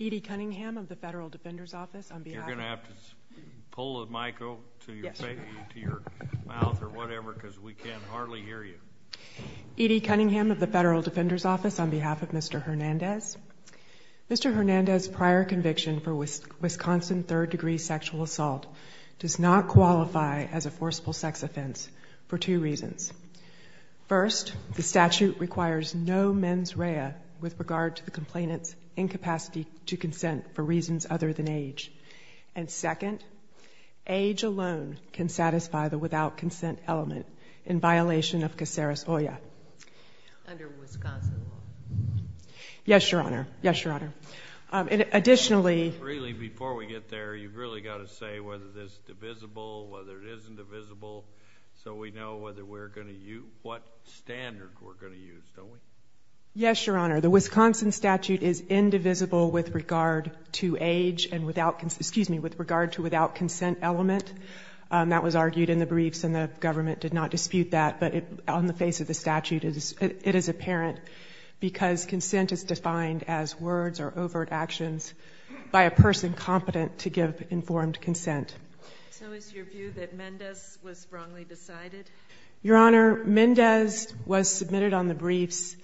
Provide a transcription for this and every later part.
Edie Cunningham of the Federal Defender's Office on behalf of Mr. Hernandez. Mr. Hernandez' prior conviction for Wisconsin third-degree sexual assault does not qualify as a forcible complainant's incapacity to consent for reasons other than age. And second, age alone can satisfy the without-consent element in violation of CACERUS OIA under Wisconsin law. Yes, Your Honor. Yes, Your Honor. Additionally— Really, before we get there, you've really got to say whether this is divisible, whether it isn't divisible, so we know whether we're going to use, don't we? Yes, Your Honor. The Wisconsin statute is indivisible with regard to age and without—excuse me—with regard to without-consent element. That was argued in the briefs and the government did not dispute that, but on the face of the statute, it is apparent because consent is defined as words or overt actions by a person competent to give informed consent. So is your view that Mendez was wrongly decided? Your Honor, Mendez was submitted on the briefs.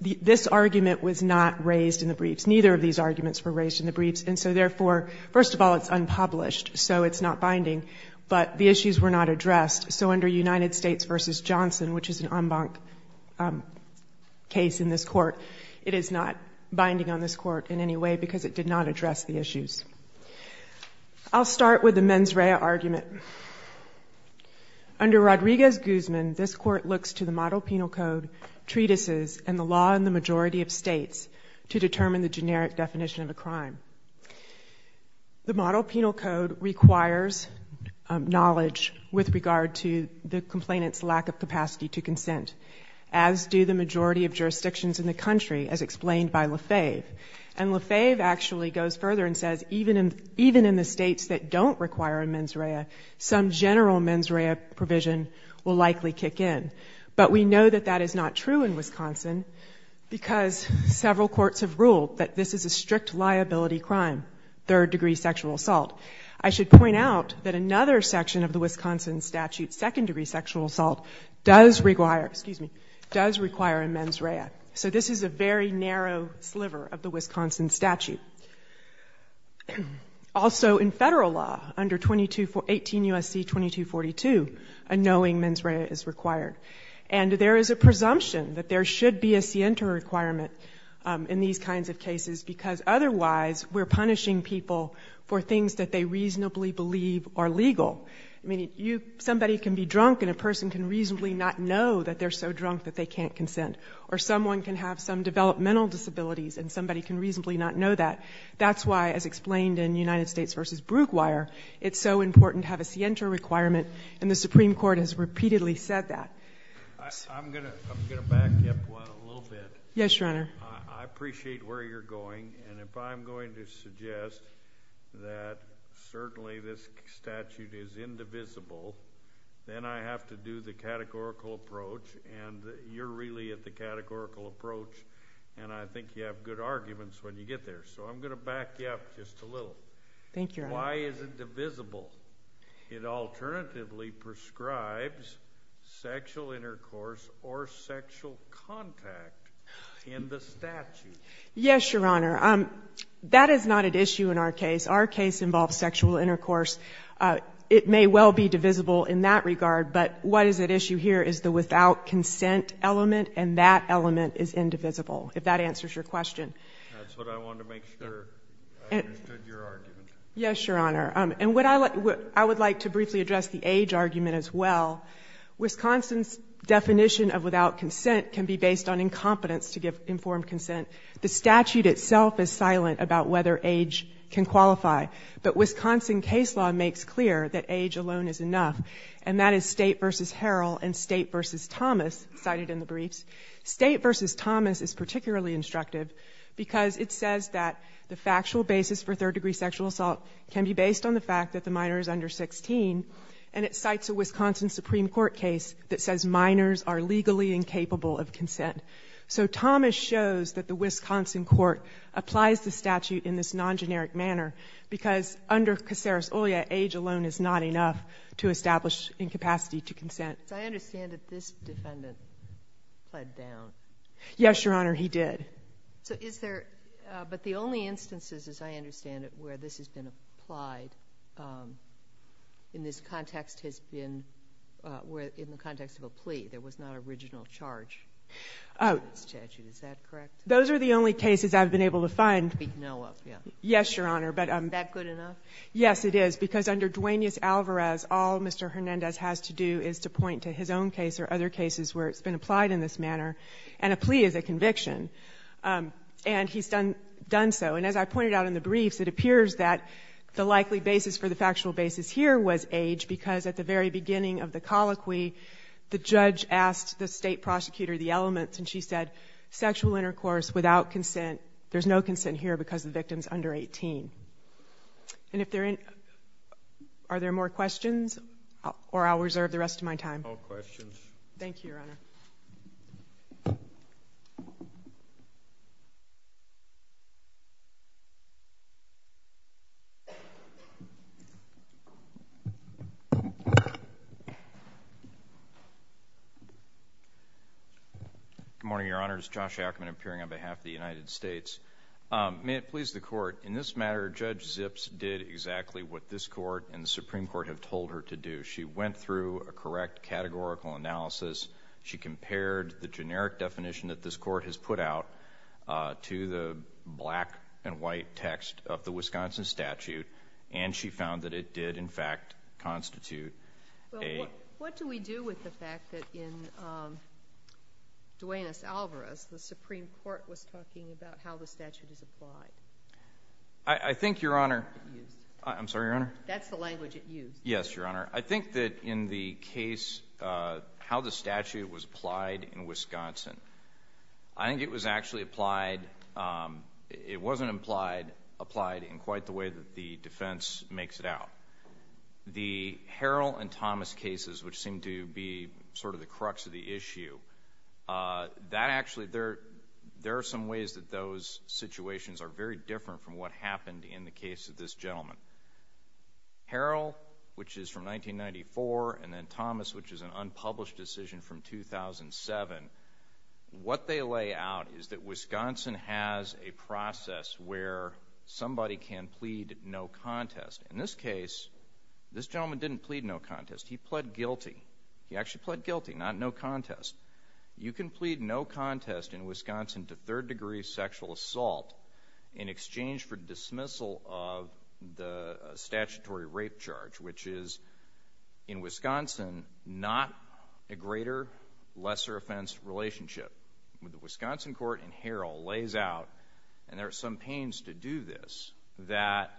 This argument was not raised in the briefs. Neither of these arguments were raised in the briefs, and so therefore, first of all, it's unpublished, so it's not binding, but the issues were not addressed. So under United States v. Johnson, which is an en banc case in this Court, it is not binding on this Court in any way because it did not address the issues. I'll start with the mens rea argument. Under Rodriguez-Guzman, this Court looks to the Model Penal Code, treatises, and the law in the majority of states to determine the generic definition of a crime. The Model Penal Code requires knowledge with regard to the complainant's lack of capacity to consent, as do the majority of jurisdictions in the country, as explained by LaFave. And LaFave actually goes further and says even in the states that don't require a mens rea, some general mens rea provision will likely kick in. But we know that that is not true in Wisconsin because several courts have ruled that this is a strict liability crime, third-degree sexual assault. I should point out that another section of the Wisconsin statute, second-degree sexual assault, does require a mens rea. So this is a very narrow sliver of the Wisconsin statute. Also in Federal law, under 18 U.S.C. 2242, a knowing mens rea is required. And there is a presumption that there should be a scienter requirement in these kinds of cases because otherwise we're punishing people for things that they reasonably believe are legal. Somebody can be drunk and a person can reasonably not know that they're so drunk that they can't consent. Or someone can have some developmental disabilities and somebody can reasonably not know that. That's why, as explained in United States v. Brookwire, it's so important to have a scienter requirement, and the Supreme Court has repeatedly said that. I'm going to back up one a little bit. Yes, Your Honor. I appreciate where you're going, and if I'm going to suggest that certainly this statute is indivisible, then I have to do the categorical approach, and you're really at the categorical approach, and I think you have good arguments when you get there. So I'm going to back you up just a little. Thank you, Your Honor. Why is it divisible? It alternatively prescribes sexual intercourse or sexual contact in the statute. Yes, Your Honor. That is not an issue in our case. Our case involves sexual intercourse. It may well be divisible in that regard, but what is at issue here is the without consent element, and that element is indivisible, if that answers your question. That's what I wanted to make sure. I understood your argument. Yes, Your Honor. And I would like to briefly address the age argument as well. Wisconsin's The statute itself is silent about whether age can qualify, but Wisconsin case law makes clear that age alone is enough, and that is State v. Harrell and State v. Thomas cited in the briefs. State v. Thomas is particularly instructive because it says that the factual basis for third-degree sexual assault can be based on the fact that the minor is under 16, and it cites a Wisconsin Supreme Court case that says minors are legally incapable of consent. So Thomas shows that the Wisconsin court applies the statute in this non-generic manner because under Caceres-Olya, age alone is not enough to establish incapacity to consent. I understand that this defendant pled down. Yes, Your Honor, he did. But the only instances, as I understand it, where this has been applied in this context has been in the context of a plea. There was not an original charge in the statute. Is that correct? Those are the only cases I've been able to find. We know of, yes. Yes, Your Honor, but Is that good enough? Yes, it is, because under Duaneus Alvarez, all Mr. Hernandez has to do is to point to his own case or other cases where it's been applied in this manner, and a plea is a conviction. And he's done so. And as I pointed out in the briefs, it appears that the likely basis for the factual basis here was age, because at the very beginning of the colloquy, the judge asked the state prosecutor the elements, and she said, sexual intercourse without consent. There's no consent here because the victim's under 18. And if there are any more questions, or I'll reserve the rest of my time. No questions. Thank you, Your Honor. Good morning, Your Honors. Josh Ackerman, appearing on behalf of the United States. May it please the Court, in this matter, Judge Zips did exactly what this Court and the Supreme Court have told her to do. She went through a correct categorical analysis. She compared the generic definition that this Court has put out to the black and white text of the Wisconsin statute, and she found that it did, in fact, constitute a... Well, what do we do with the fact that in Duenas-Alvarez, the Supreme Court was talking about how the statute is applied? I think, Your Honor... I'm sorry, Your Honor? That's the language it used. Yes, Your Honor. I think that in the case, how the statute was applied in Wisconsin, I think it was actually applied... it wasn't applied in quite the way that the defense makes it out. The Harrell and Thomas cases, which seem to be sort of the crux of the issue, that actually... there are some ways that those situations are very different from what happened in the case of this gentleman. Harrell, which is from 1994, and then Thomas, which is an unpublished decision from 2007, what they lay out is that Wisconsin has a process where somebody can plead no contest. In this case, this gentleman didn't plead no contest. He pled guilty. He actually pled guilty, not no contest. You can plead no contest in Wisconsin to third-degree sexual assault in exchange for dismissal of the statutory rape charge, which is, in Wisconsin, not a greater, lesser offense relationship. The Wisconsin court in Harrell lays out, and there are some pains to do this, that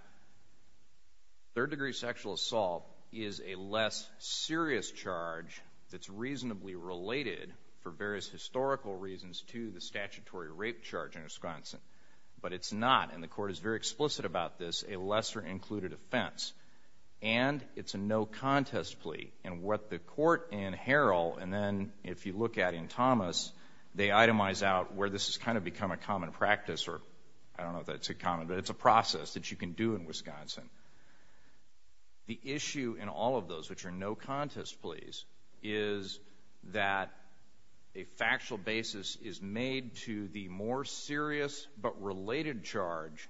third-degree sexual assault is a less serious charge that's reasonably related, for various historical reasons, to the statutory rape charge in Wisconsin. But it's not, and the court is very explicit about this, a lesser-included offense. And it's a no-contest plea. And what the court in Harrell, and then if you look at in Thomas, they itemize out where this has kind of become a common practice, or I don't know if that's a common, but it's a process that you can do in Wisconsin. The issue in all of those, which are no-contest pleas, is that a factual basis is made to the more serious but related charge,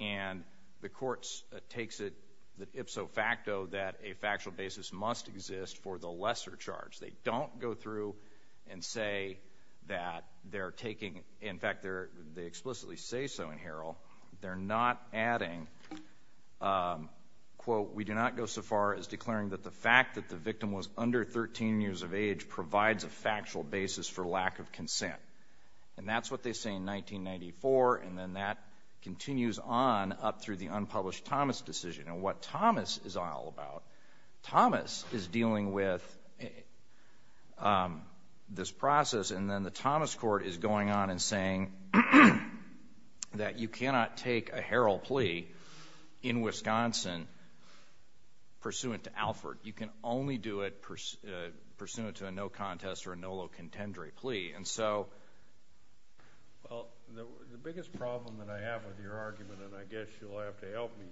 and the court takes it ipso facto that a factual basis must exist for the lesser charge. They don't go through and say that they're taking, in fact, they explicitly say so in Harrell. They're not adding, quote, we do not go so far as declaring that the fact that the victim was under 13 years of age provides a factual basis for lack of consent. And that's what they say in 1994, and then that continues on up through the unpublished Thomas decision. And what Thomas is all about, Thomas is dealing with this process, and then the Thomas court is going on and saying that you cannot take a Harrell plea in Wisconsin pursuant to Alford. You can only do it pursuant to a no-contest or a no-low contendere plea. And so— Well, the biggest problem that I have with your argument, and I guess you'll have to help me,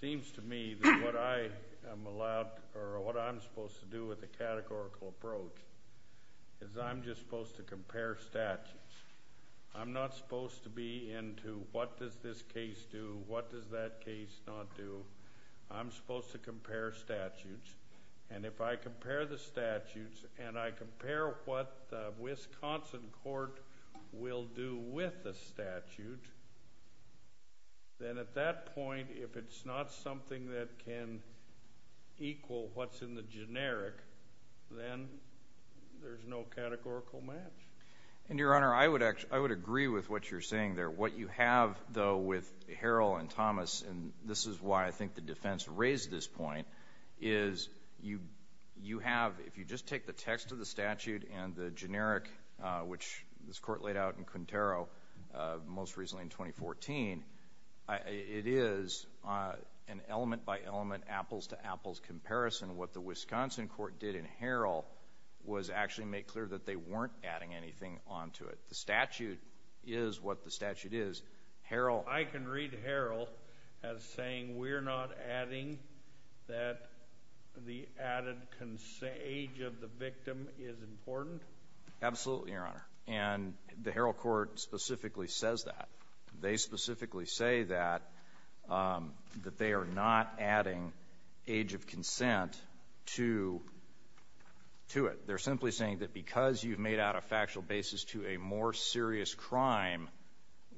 seems to me that what I am allowed or what I'm supposed to do with the categorical approach is I'm just supposed to compare statutes. I'm not supposed to be into what does this case do, what does that case not do. I'm supposed to compare statutes. And if I compare the statutes and I compare what the Wisconsin court will do with the statute, then at that point, if it's not something that can equal what's in the generic, then there's no categorical match. And, Your Honor, I would agree with what you're saying there. What you have, though, with Harrell and Thomas, and this is why I think the defense raised this point, is you have—if you just take the text of the statute and the generic, which this Court laid out in Quintero most recently in 2014, it is an element-by-element, apples-to-apples comparison. What the Wisconsin court did in Harrell was actually make clear that they weren't adding anything onto it. The statute is what the statute is. I can read Harrell as saying we're not adding that the added age of the victim is important? Absolutely, Your Honor. And the Harrell court specifically says that. They specifically say that, that they are not adding age of consent to it. They're simply saying that because you've made out a factual basis to a more serious crime,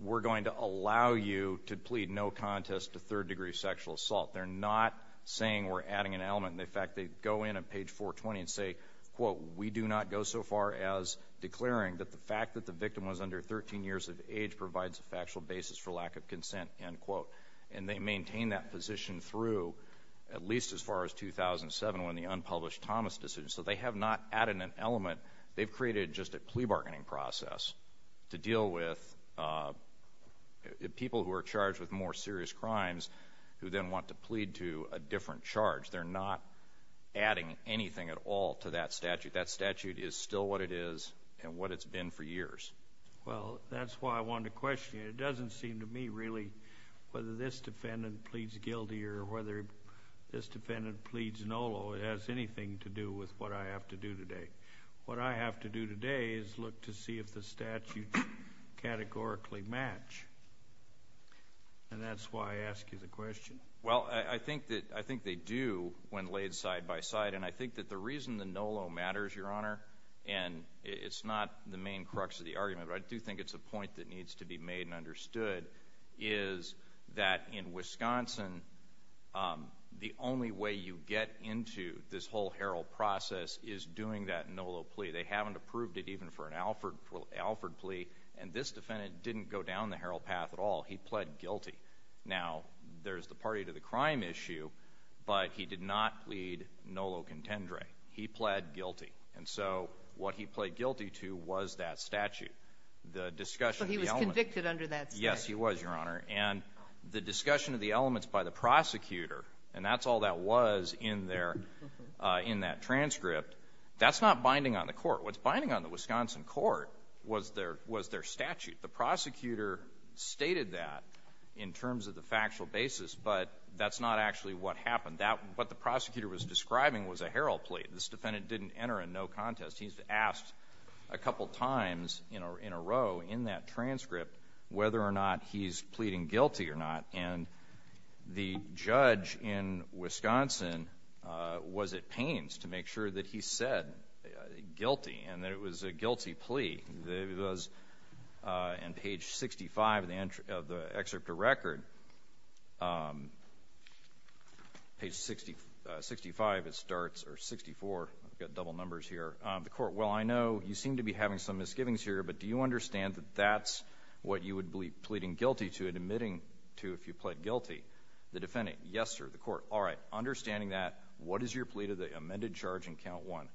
we're going to allow you to plead no contest to third-degree sexual assault. They're not saying we're adding an element. In fact, they go in on page 420 and say, quote, we do not go so far as declaring that the fact that the victim was under 13 years of age provides a factual basis for lack of consent, end quote. And they maintain that position through at least as far as 2007 when the unpublished Thomas decision. So they have not added an element. They've created just a plea bargaining process to deal with people who are charged with more serious crimes who then want to plead to a different charge. They're not adding anything at all to that statute. That statute is still what it is and what it's been for years. Well, that's why I wanted to question you. It doesn't seem to me really whether this defendant pleads guilty or whether this defendant pleads NOLO has anything to do with what I have to do today. What I have to do today is look to see if the statutes categorically match. And that's why I ask you the question. Well, I think they do when laid side by side. And I think that the reason the NOLO matters, Your Honor, and it's not the main crux of the argument, but I do think it's a point that needs to be made and understood, is that in Wisconsin, the only way you get into this whole herald process is doing that NOLO plea. They haven't approved it even for an Alford plea. And this defendant didn't go down the herald path at all. He pled guilty. Now, there's the party to the crime issue, but he did not plead NOLO contendere. He pled guilty. And so what he pled guilty to was that statute. So he was convicted under that statute. Yes, he was, Your Honor. And the discussion of the elements by the prosecutor, and that's all that was in that transcript, that's not binding on the court. What's binding on the Wisconsin court was their statute. The prosecutor stated that in terms of the factual basis, but that's not actually what happened. What the prosecutor was describing was a herald plea. This defendant didn't enter a no contest. He's asked a couple times in a row in that transcript whether or not he's pleading guilty or not. And the judge in Wisconsin was at pains to make sure that he said guilty and that it was a guilty plea. In page 65 of the excerpt of record, page 65, it starts, or 64, I've got double numbers here, the court, well, I know you seem to be having some misgivings here, but do you understand that that's what you would be pleading guilty to and admitting to if you pled guilty? The defendant, yes, sir. The court, all right. Understanding that, what is your plea to the amended charge in count one?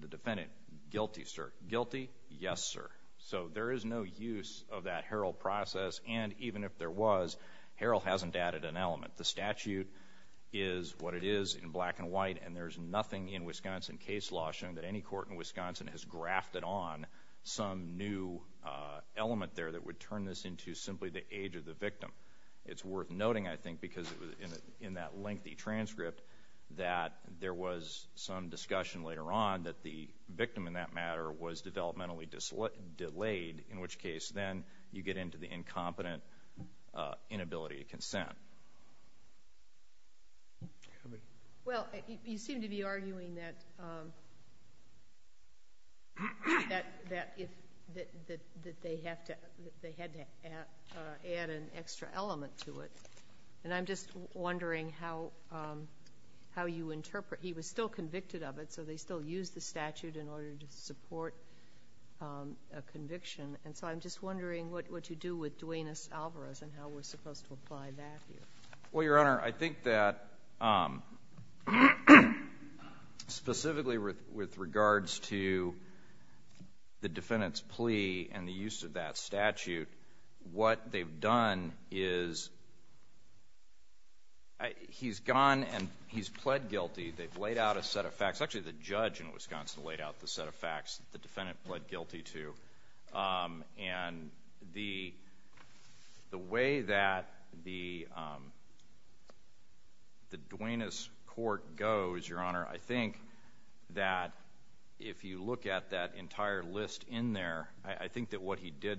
The defendant, guilty, sir. The court, guilty, yes, sir. So there is no use of that herald process, and even if there was, herald hasn't added an element. The statute is what it is in black and white, and there's nothing in Wisconsin case law showing that any court in Wisconsin has grafted on some new element there that would turn this into simply the age of the victim. It's worth noting, I think, because in that lengthy transcript that there was some discussion later on that the victim in that matter was developmentally delayed, in which case then you get into the incompetent inability to consent. Well, you seem to be arguing that they had to add an extra element to it, and I'm just wondering how you interpret. He was still convicted of it, so they still used the statute in order to support a conviction, and so I'm just wondering what you do with Duenas-Alvarez and how we're supposed to apply that here. Well, Your Honor, I think that specifically with regards to the defendant's plea and the use of that statute, what they've done is he's gone and he's pled guilty. They've laid out a set of facts. Actually, the judge in Wisconsin laid out the set of facts that the defendant pled guilty to, and the way that the Duenas court goes, Your Honor, I think that if you look at that entire list in there, I think that what he did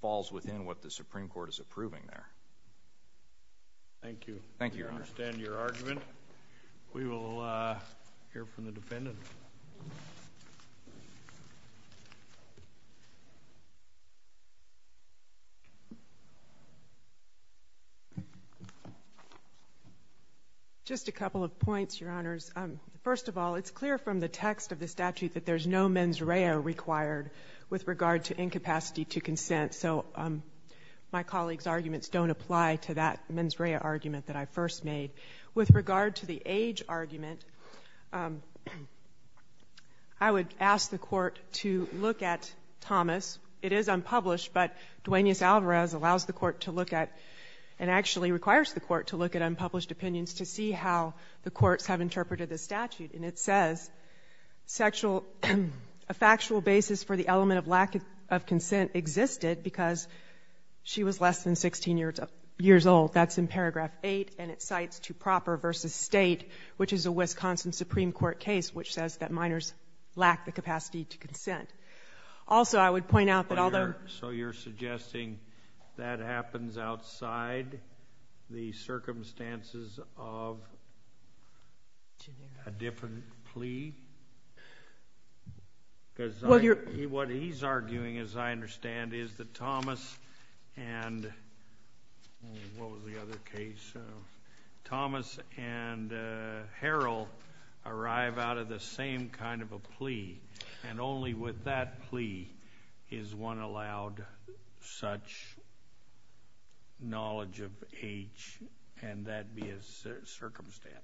falls within what the Supreme Court is approving there. Thank you. Thank you, Your Honor. I understand your argument. We will hear from the defendant. Just a couple of points, Your Honors. First of all, it's clear from the text of the statute that there's no mens rea required with regard to incapacity to consent, so my colleague's arguments don't apply to that mens rea argument that I first made. With regard to the age argument, I would ask the court to look at Thomas. It is unpublished, but Duenas-Alvarez allows the court to look at, and actually requires the court to look at unpublished opinions to see how the courts have interpreted the statute, and it says a factual basis for the element of lack of consent existed because she was less than 16 years old. That's in paragraph 8, and it cites to proper versus state, which is a Wisconsin Supreme Court case, which says that minors lack the capacity to consent. Also, I would point out that although... So you're suggesting that happens outside the circumstances of a different plea? What he's arguing, as I understand, is that Thomas and... what was the other case? Thomas and Harrell arrive out of the same kind of a plea, and only with that plea is one allowed such knowledge of age, and that be a circumstance.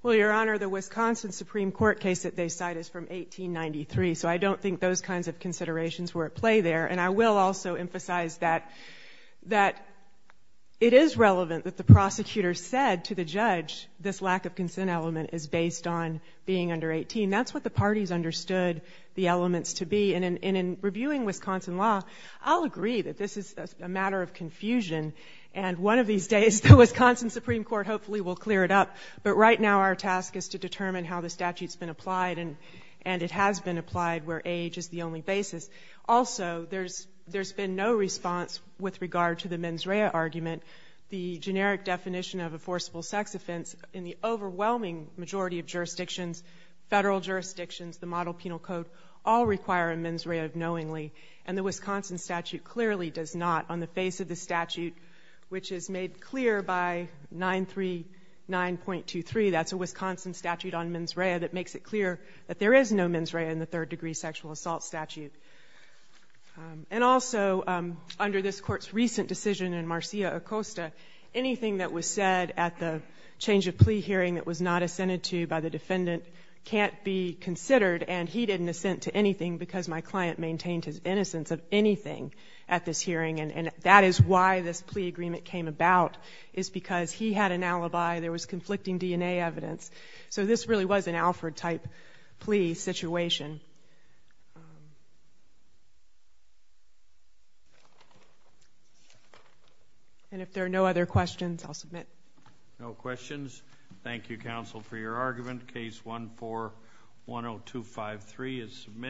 Well, Your Honor, the Wisconsin Supreme Court case that they cite is from 1893, so I don't think those kinds of considerations were at play there, and I will also emphasize that it is relevant that the prosecutor said to the judge this lack of consent element is based on being under 18. That's what the parties understood the elements to be, and in reviewing Wisconsin law, I'll agree that this is a matter of confusion, and one of these days the Wisconsin Supreme Court hopefully will clear it up, but right now our task is to determine how the statute's been applied, and it has been applied where age is the only basis. Also, there's been no response with regard to the mens rea argument, the generic definition of a forcible sex offense in the overwhelming majority of jurisdictions, federal jurisdictions, the model penal code, all require a mens rea of knowingly, and the Wisconsin statute clearly does not on the face of the statute, which is made clear by 939.23, that's a Wisconsin statute on mens rea that makes it clear that there is no mens rea in the third-degree sexual assault statute. And also, under this Court's recent decision in Marcia Acosta, anything that was said at the change of plea hearing that was not assented to by the defendant can't be considered, and he didn't assent to anything because my client maintained his innocence of anything at this hearing, and that is why this plea agreement came about, is because he had an alibi, there was conflicting DNA evidence, so this really was an Alford-type plea situation. And if there are no other questions, I'll submit. No questions. Thank you, counsel, for your argument. Case 14-10253 is submitted.